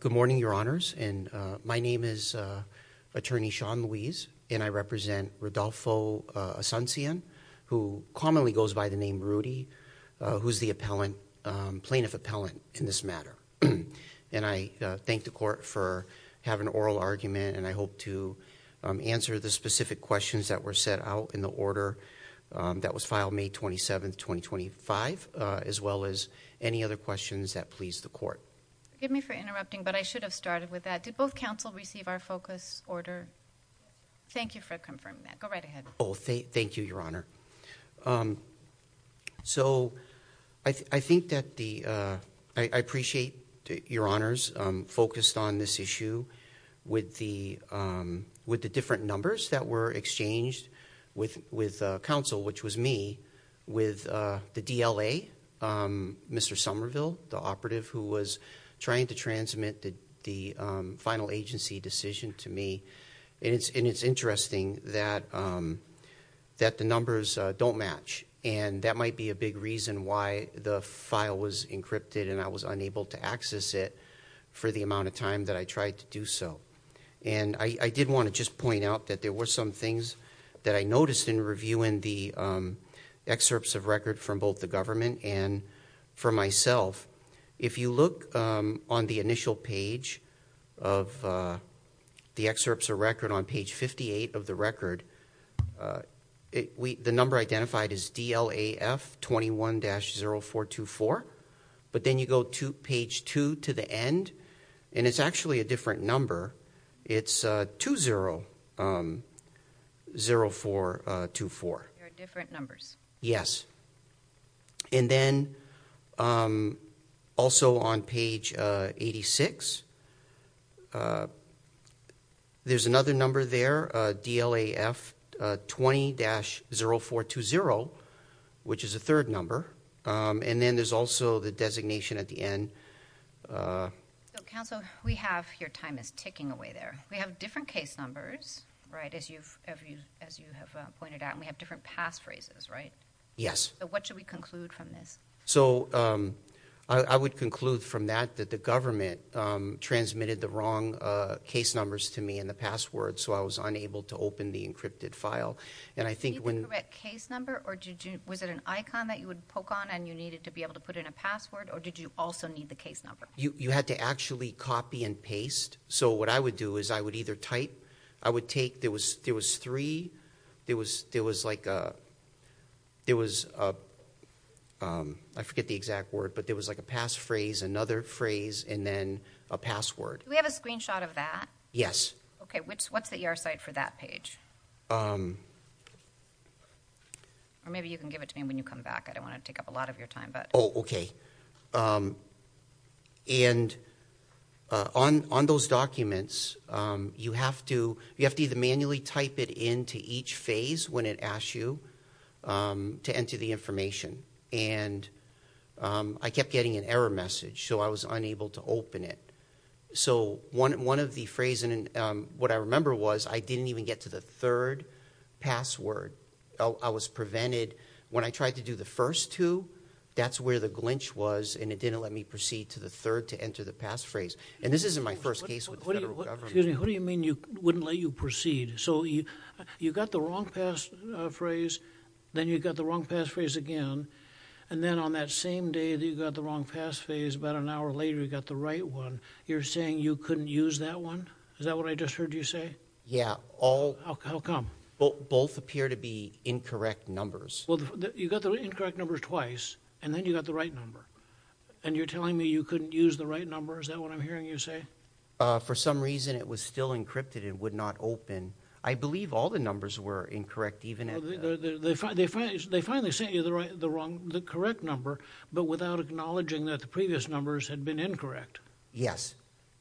Good morning, Your Honors, and my name is Attorney Shawn Louise, and I represent Rodolfo Asuncion, who commonly goes by the name Rudy, who's the plaintiff appellant in this matter. And I thank the Court for having an oral argument, and I hope to answer the specific questions that were set out in the order that was filed May 27, 2025, as well as any other questions that please the Court. Forgive me for interrupting, but I should have started with that. Did both counsel receive our focus order? Thank you for confirming that. Go right ahead. Oh, thank you, Your Honor. So I think that the, I appreciate Your Honors focused on this issue with the different numbers that were exchanged with counsel, which was me, with the DLA, Mr. Somerville, the operative who was trying to transmit the final agency decision to me, and it's interesting that the numbers don't match, and that might be a big reason why the file was encrypted and I was unable to access it for the amount of time that I tried to do so. And I did want to just point out that there were some things that I noticed in reviewing the excerpts of record from both the government and from myself. If you look on the initial page of the excerpts of record on page 58 of the record, the number identified is DLAF 21-0424, but then you go to page 2 to the end, and it's actually a different number, it's 20-0424. There are different numbers. Yes. And then also on page 86, there's another number there, DLAF 20-0420, which is a third number, and then there's also the designation at the end. So, counsel, we have – your time is ticking away there. We have different case numbers, right, as you have pointed out, and we have different passphrases, right? Yes. So what should we conclude from this? So I would conclude from that that the government transmitted the wrong case numbers to me and the password, so I was unable to open the encrypted file. And I think when – Was it the correct case number, or was it an icon that you would poke on and you needed to be able to put in a password, or did you also need the case number? You had to actually copy and paste. So what I would do is I would either type – I would take – there was three. There was like a – I forget the exact word, but there was like a passphrase, another phrase, and then a password. Do we have a screenshot of that? Yes. Okay. What's the ER site for that page? Or maybe you can give it to me when you come back. I don't want to take up a lot of your time. Oh, okay. And on those documents, you have to either manually type it into each phase when it asks you to enter the information. And I kept getting an error message, so I was unable to open it. So one of the phrases – what I remember was I didn't even get to the third password. I was prevented – when I tried to do the first two, that's where the glinch was and it didn't let me proceed to the third to enter the passphrase. And this isn't my first case with the federal government. Excuse me. What do you mean you wouldn't let you proceed? So you got the wrong passphrase, then you got the wrong passphrase again, and then on that same day that you got the wrong passphrase, about an hour later you got the right one. You're saying you couldn't use that one? Is that what I just heard you say? Yeah. All – How come? Both appear to be incorrect numbers. Well, you got the incorrect numbers twice, and then you got the right number. And you're telling me you couldn't use the right number? Is that what I'm hearing you say? For some reason it was still encrypted and would not open. I believe all the numbers were incorrect, even at – They finally sent you the correct number, but without acknowledging that the previous numbers had been incorrect. Yes.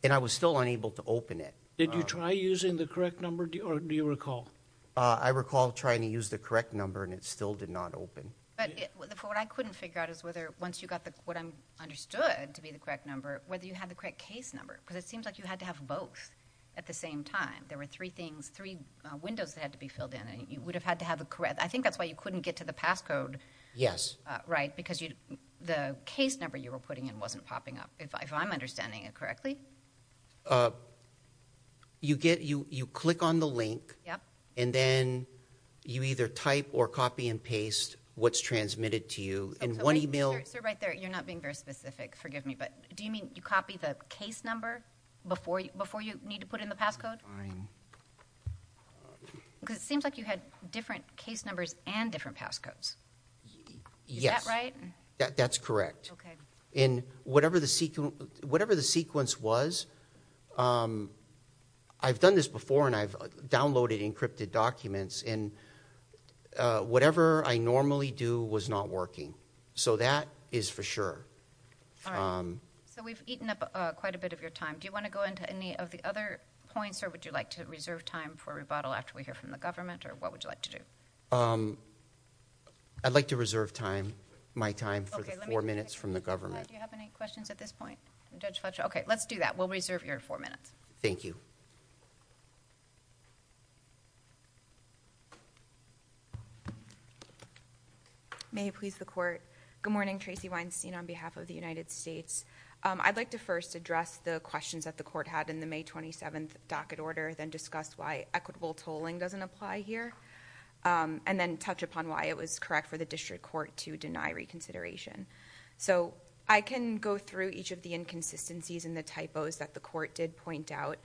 And I was still unable to open it. Did you try using the correct number, or do you recall? I recall trying to use the correct number and it still did not open. But what I couldn't figure out is whether, once you got what I understood to be the correct number, whether you had the correct case number. Because it seems like you had to have both at the same time. There were three things, three windows that had to be filled in, and you would have had to have the correct – I think that's why you couldn't get to the passcode. Yes. Right, because the case number you were putting in wasn't popping up, if I'm understanding it correctly. You get – you click on the link. Yep. And then you either type or copy and paste what's transmitted to you in one email – Sir, right there. You're not being very specific. Forgive me, but do you mean you copy the case number before you need to put in the passcode? Fine. Because it seems like you had different case numbers and different passcodes. Yes. Is that right? That's correct. Okay. In whatever the sequence was, I've done this before, and I've downloaded encrypted documents, and whatever I normally do was not working. So that is for sure. All right. So we've eaten up quite a bit of your time. Do you want to go into any of the other points, or would you like to reserve time for rebuttal after we hear from the government, or what would you like to do? I'd like to reserve time, my time, for the four minutes from the government. Do you have any questions at this point, Judge Fletcher? Okay. Let's do that. We'll reserve your four minutes. Thank you. May it please the Court. Good morning. Tracy Weinstein on behalf of the United States. I'd like to first address the questions that the Court had in the May 27th docket order, then discuss why equitable tolling doesn't apply here. And then touch upon why it was correct for the District Court to deny reconsideration. So I can go through each of the inconsistencies and the typos that the Court did point out,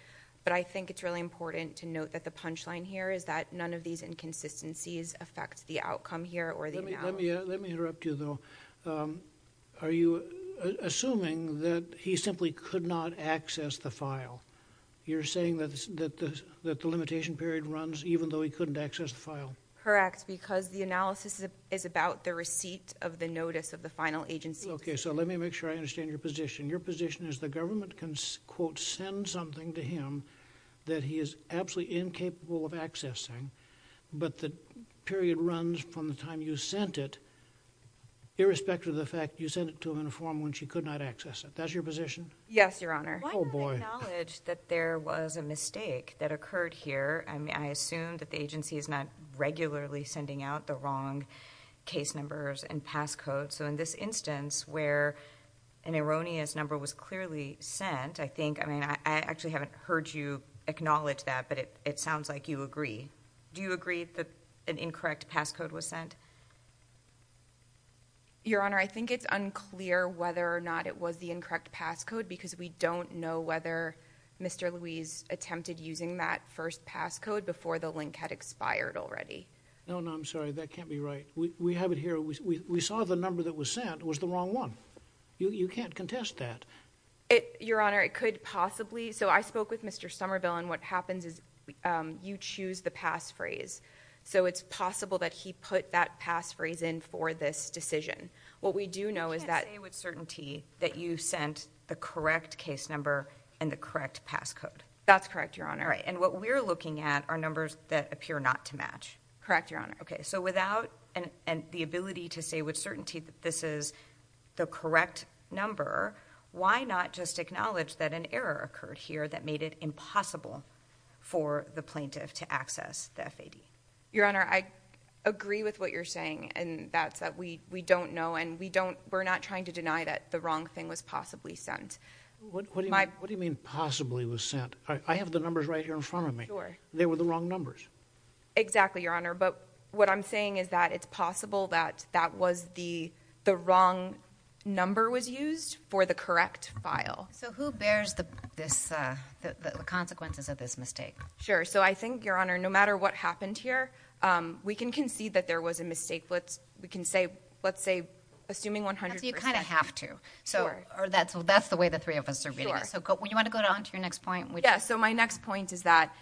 but I think it's really important to note that the punchline here is that none of these inconsistencies affect the outcome here or the analysis. Let me interrupt you, though. Are you assuming that he simply could not access the file? You're saying that the limitation period runs even though he couldn't access the file? Correct. Because the analysis is about the receipt of the notice of the final agency. Okay. So let me make sure I understand your position. Your position is the government can, quote, send something to him that he is absolutely incapable of accessing, but the period runs from the time you sent it, irrespective of the fact you sent it to him in a form when she could not access it. That's your position? Yes, Your Honor. Why do you acknowledge that there was a mistake that occurred here? I mean, I assume that the agency is not regularly sending out the wrong case numbers and pass code. So in this instance where an erroneous number was clearly sent, I think, I mean, I actually haven't heard you acknowledge that, but it sounds like you agree. Do you agree that an incorrect pass code was sent? Your Honor, I think it's unclear whether or not it was the incorrect pass code because we don't know whether Mr. Luis attempted using that first pass code before the link had expired already. No, no. I'm sorry. That can't be right. We have it here. We saw the number that was sent was the wrong one. You can't contest that. Your Honor, it could possibly. So I spoke with Mr. Somerville and what happens is you choose the pass phrase. So it's possible that he put that pass phrase in for this decision. What we do know is that... You can't say with certainty that you sent the correct case number and the correct pass code. That's correct, Your Honor. All right. And what we're looking at are numbers that appear not to match. Correct, Your Honor. Okay. So without the ability to say with certainty that this is the correct number, why not just acknowledge that an error occurred here that made it impossible for the plaintiff to access the FAD? Your Honor, I agree with what you're saying and that's that we don't know and we're not trying to deny that the wrong thing was possibly sent. What do you mean possibly was sent? I have the numbers right here in front of me. They were the wrong numbers. Exactly, Your Honor. But what I'm saying is that it's possible that that was the wrong number was used for the correct file. So who bears the consequences of this mistake? Sure. So I think, Your Honor, no matter what happened here, we can concede that there was a mistake. We can say, let's say, assuming 100 percent. You kind of have to. Sure. Or that's the way the three of us are reading it. So you want to go on to your next point? Yeah. So my next point is that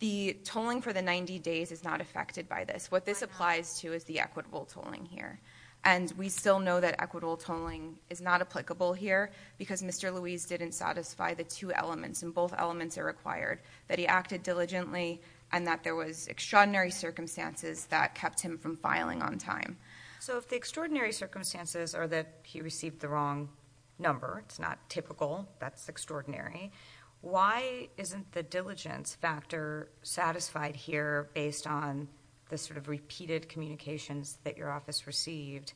the tolling for the 90 days is not affected by this. What this applies to is the equitable tolling here. And we still know that equitable tolling is not applicable here because Mr. Louise didn't satisfy the two elements, and both elements are required, that he acted diligently and that there was extraordinary circumstances that kept him from filing on time. So if the extraordinary circumstances are that he received the wrong number, it's not typical, that's extraordinary. Why isn't the diligence factor satisfied here based on the sort of repeated communications that your office received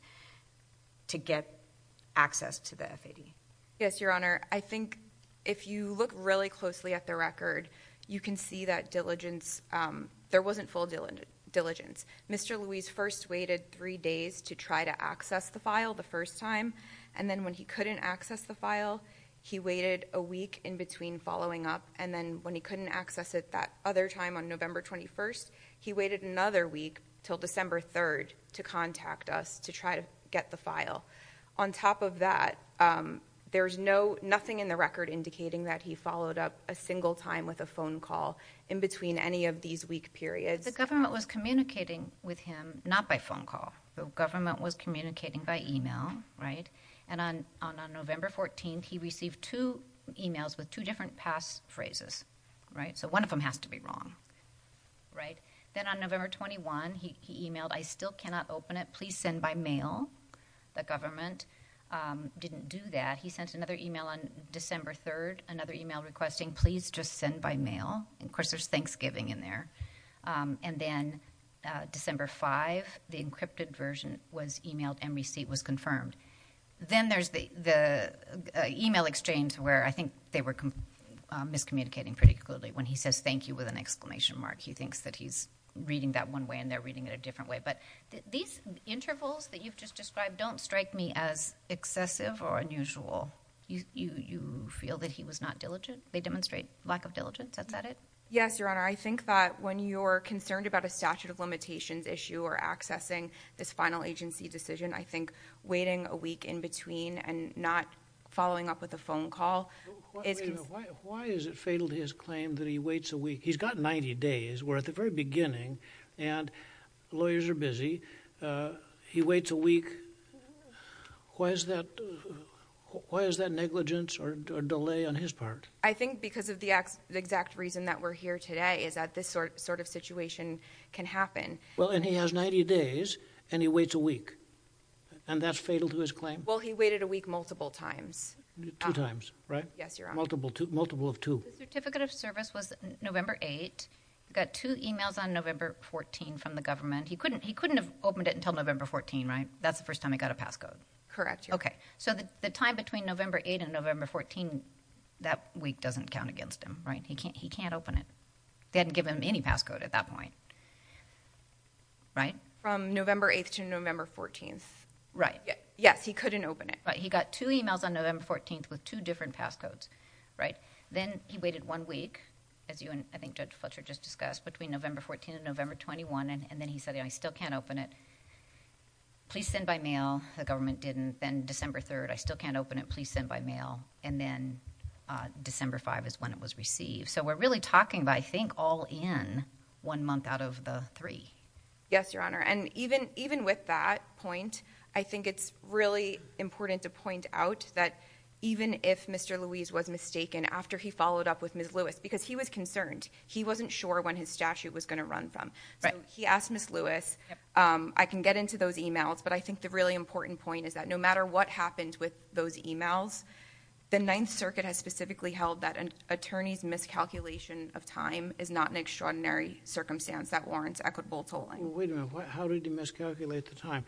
to get access to the FAD? Yes, Your Honor. I think if you look really closely at the record, you can see that diligence, there wasn't full diligence. Mr. Louise first waited three days to try to access the file the first time. And then when he couldn't access the file, he waited a week in between following up. And then when he couldn't access it that other time on November 21st, he waited another week till December 3rd to contact us to try to get the file. On top of that, there's nothing in the record indicating that he followed up a single time with a phone call in between any of these week periods. The government was communicating with him, not by phone call. The government was communicating by email, right? And on November 14th, he received two emails with two different pass phrases, right? So one of them has to be wrong, right? Then on November 21, he emailed, I still cannot open it. Please send by mail. The government didn't do that. He sent another email on December 3rd, another email requesting, please just send by mail. And of course, there's Thanksgiving in there. And then December 5, the encrypted version was emailed and receipt was confirmed. Then there's the email exchange where I think they were miscommunicating pretty clearly when he says thank you with an exclamation mark. He thinks that he's reading that one way and they're reading it a different way. But these intervals that you've just described don't strike me as excessive or unusual. You feel that he was not diligent? They demonstrate lack of diligence? Is that it? Yes, Your Honor. I think that when you're concerned about a statute of limitations issue or accessing this final agency decision, I think waiting a week in between and not following up with a phone call is. Why is it fatal to his claim that he waits a week? He's got 90 days. We're at the very beginning and lawyers are busy. He waits a week. Why is that negligence or delay on his part? I think because of the exact reason that we're here today is that this sort of situation can happen. Well, and he has 90 days and he waits a week. And that's fatal to his claim? Well, he waited a week multiple times. Two times, right? Yes, Your Honor. Multiple of two. The certificate of service was November 8th. Got two emails on November 14th from the government. He couldn't have opened it until November 14th, right? That's the first time he got a passcode? Correct, Your Honor. Okay. So the time between November 8th and November 14th, that week doesn't count against him, right? He can't open it. They hadn't given him any passcode at that point, right? From November 8th to November 14th. Right. Yes, he couldn't open it. Right. He got two emails on November 14th with two different passcodes, right? Then he waited one week, as you and I think Judge Fletcher just discussed, between November 14th and November 21st. And then he said, you know, I still can't open it. Please send by mail. The government didn't. Then December 3rd, I still can't open it. Please send by mail. And then December 5th is when it was received. So we're really talking about, I think, all in one month out of the three. Yes, Your Honor. And even with that point, I think it's really important to point out that even if Mr. Louise was mistaken after he followed up with Ms. Lewis, because he was concerned, he wasn't sure when his statute was going to run from. So he asked Ms. Lewis, I can get into those emails. But I think the really important point is that no matter what happened with those emails, the Ninth Circuit has specifically held that an attorney's miscalculation of time is not an extraordinary circumstance that warrants equitable tolling. Well, wait a minute. How did he miscalculate the time?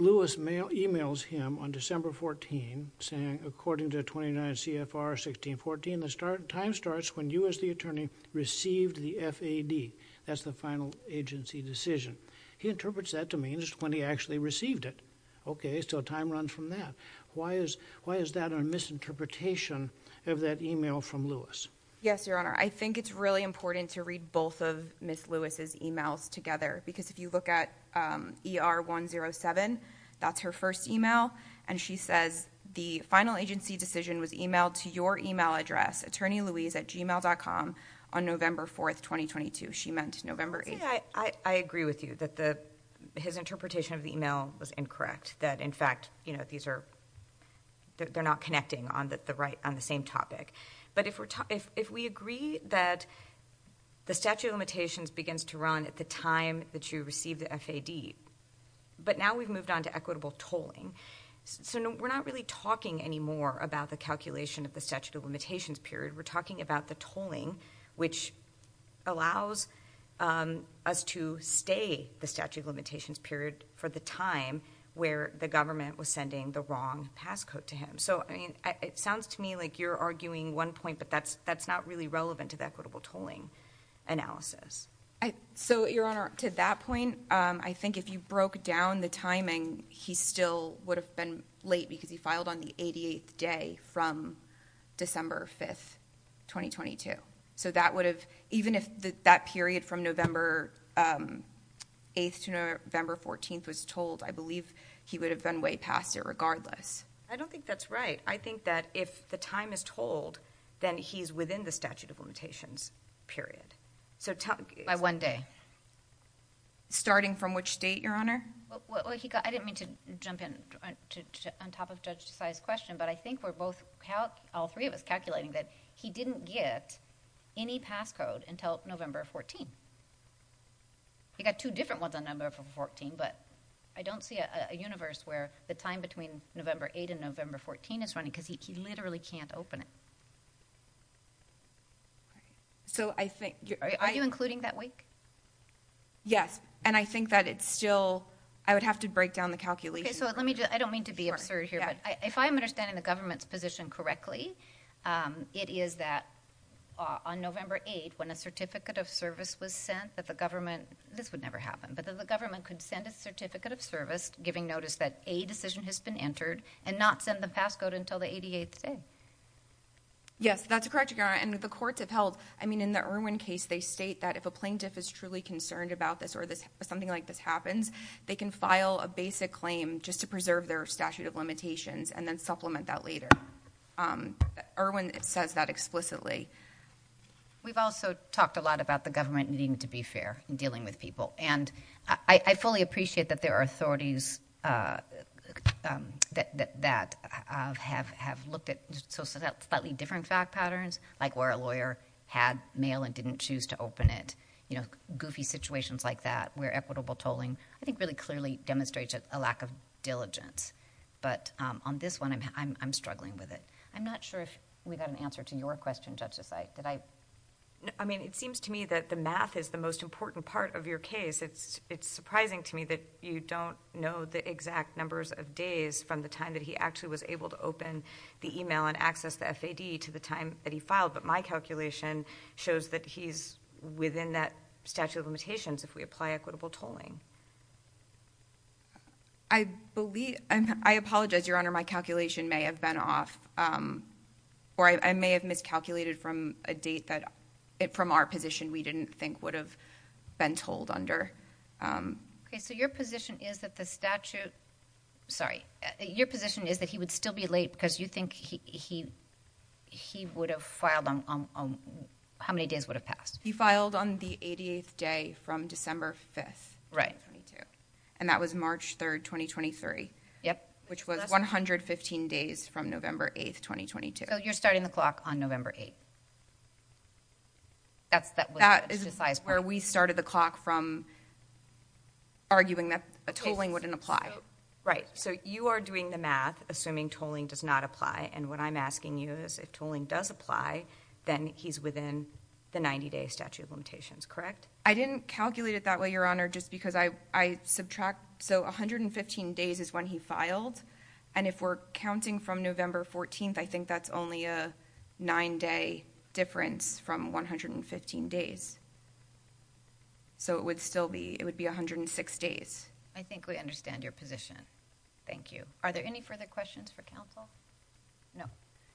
Lewis emails him on December 14th, saying, according to 29 CFR 1614, the time starts when you, as the attorney, received the FAD. That's the final agency decision. He interprets that to mean when he actually received it. Okay, so time runs from that. Why is that a misinterpretation of that email from Lewis? Yes, Your Honor. I think it's really important to read both of Ms. Lewis' emails. She sent him an email, GR107. That's her first email. And she says, the final agency decision was emailed to your email address, attorneylewis at gmail.com, on November 4th, 2022. She meant November 8th. See, I agree with you that his interpretation of the email was incorrect. That in fact, these are, they're not connecting on the same topic. But if we're, if we agree that the statute of limitations begins to run at the time that you received the FAD, but now we've moved on to equitable tolling, so we're not really talking anymore about the calculation of the statute of limitations period. We're talking about the tolling, which allows us to stay the statute of limitations period for the time where the government was sending the wrong passcode to him. So, I mean, it sounds to me like you're arguing one point, but that's, that's not really relevant to the equitable tolling analysis. So Your Honor, to that point, I think if you broke down the timing, he still would have been late because he filed on the 88th day from December 5th, 2022. So that would have, even if that period from November 8th to November 14th was tolled, I believe he would have been way past it regardless. I don't think that's right. I think that if the time is tolled, then he's within the statute of limitations period. So tell... By one day. Starting from which date, Your Honor? Well, he got, I didn't mean to jump in on top of Judge Desai's question, but I think we're both, all three of us calculating that he didn't get any passcode until November 14th. He got two different ones on November 14th, but I don't see a universe where the time between November 8th and November 14th is running because he literally can't open it. So I think... Are you including that week? Yes. And I think that it's still, I would have to break down the calculations. Okay. So let me just, I don't mean to be absurd here, but if I'm understanding the government's position correctly, it is that on November 8th, when a certificate of service was sent that the government, this would never happen, but that the government could send a certificate of service giving notice that a decision has been entered and not send the passcode until the 88th day. That's correct, Your Honor. And the courts have held, I mean, in the Irwin case, they state that if a plaintiff is truly concerned about this or something like this happens, they can file a basic claim just to preserve their statute of limitations and then supplement that later. Irwin says that explicitly. We've also talked a lot about the government needing to be fair in dealing with people. And I fully appreciate that there are authorities that have looked at slightly different fact patterns, like where a lawyer had mail and didn't choose to open it, you know, goofy situations like that, where equitable tolling, I think, really clearly demonstrates a lack of diligence. But on this one, I'm struggling with it. I'm not sure if we got an answer to your question, Justice. Did I? I mean, it seems to me that the math is the most important part of your case. It's surprising to me that you don't know the exact numbers of days from the time that he actually was able to open the email and access the FAD to the time that he filed. But my calculation shows that he's within that statute of limitations if we apply equitable tolling. I believe, I apologize, Your Honor. My calculation may have been off, or I may have miscalculated from a date that, from our position, we didn't think would have been tolled under. Okay, so your position is that the statute, sorry, your position is that he would still be late because you think he would have filed on, how many days would have passed? He filed on the 88th day from December 5th, 2022. And that was March 3rd, 2023, which was 115 days from November 8th, 2022. So you're starting the clock on November 8th. That's where we started the clock from, arguing that a tolling wouldn't apply. Right, so you are doing the math, assuming tolling does not apply, and what I'm asking you is if tolling does apply, then he's within the 90-day statute of limitations, correct? I didn't calculate it that way, Your Honor, just because I subtract, so 115 days is when he filed, and if we're counting from November 14th, I think that's only a nine-day difference from 115 days. So it would still be, it would be 106 days. I think we understand your position. Thank you. Are there any further questions for counsel? No.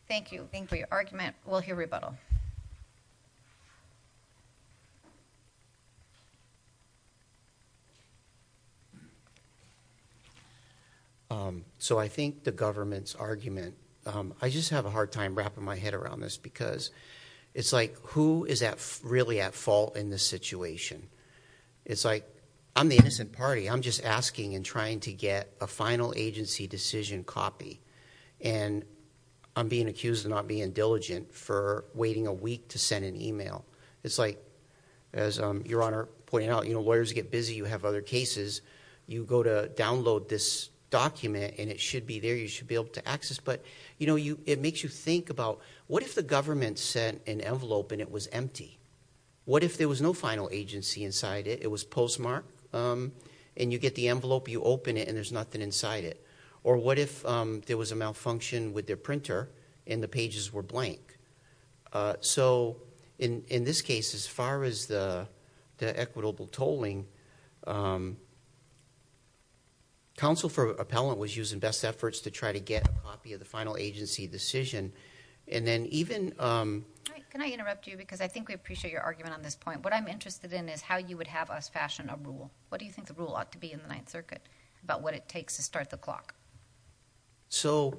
Thank you for your argument. We'll hear rebuttal. So I think the government's argument, I just have a hard time wrapping my head around this because it's like, who is really at fault in this situation? It's like, I'm the innocent party. I'm just asking and trying to get a final agency decision copy, and I'm being accused of not being diligent for waiting a week to send an email. It's like, as Your Honor pointed out, lawyers get busy, you have other cases, you go to download this document and it should be there, you should be able to access, but it makes you think about, what if the government sent an envelope and it was empty? What if there was no final agency inside it, it was postmarked, and you get the envelope, you open it, and there's nothing inside it? Or what if there was a malfunction with their printer and the pages were blank? So, in this case, as far as the equitable tolling, counsel for appellant was using best efforts to try to get a copy of the final agency decision, and then even... Can I interrupt you because I think we appreciate your argument on this point. What I'm interested in is how you would have us fashion a rule. What do you think the rule ought to be in the Ninth Circuit about what it takes to start the clock? So,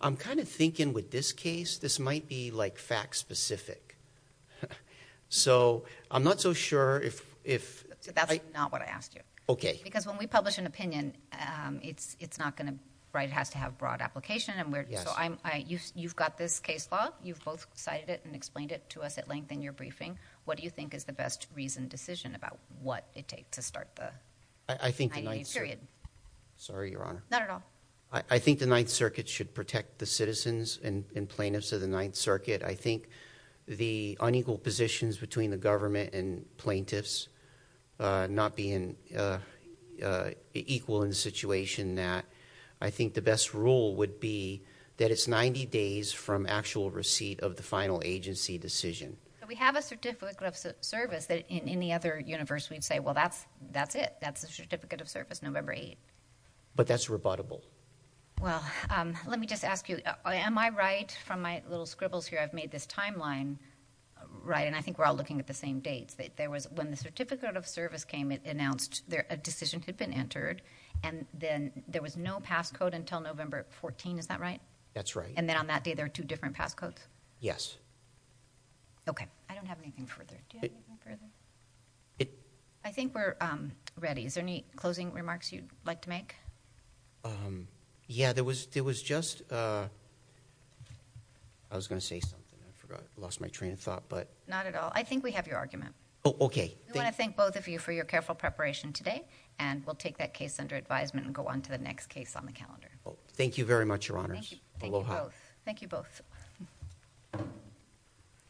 I'm kind of thinking with this case, this might be fact-specific, so I'm not so sure if... That's not what I asked you. Okay. Because when we publish an opinion, it has to have broad application, so you've got this case law, you've both cited it and explained it to us at length in your briefing. What do you think is the best reasoned decision about what it takes to start the Ninth Circuit? I think the Ninth... Sorry, Your Honor. Not at all. I think the Ninth Circuit should protect the citizens and plaintiffs of the Ninth Circuit. I think the unequal positions between the government and plaintiffs not being equal in the situation that... I think the best rule would be that it's 90 days from actual receipt of the final agency decision. So, we have a certificate of service that in any other universe, we'd say, well, that's it. That's the certificate of service, November 8th. But that's rebuttable. Well, let me just ask you, am I right from my little scribbles here, I've made this timeline right, and I think we're all looking at the same dates. When the certificate of service came, it announced a decision had been entered, and then there was no passcode until November 14th. Is that right? That's right. And then on that day, there were two different passcodes? Yes. Okay. I don't have anything further. Do you have anything further? I think we're ready. Is there any closing remarks you'd like to make? Yeah, there was just... I was going to say something. I forgot. I lost my train of thought, but... Not at all. I think we have your argument. Oh, okay. We want to thank both of you for your careful preparation today, and we'll take that case under advisement and go on to the next case on the calendar. Thank you very much, Your Honors. Thank you. Aloha. Thank you both. Thank you both.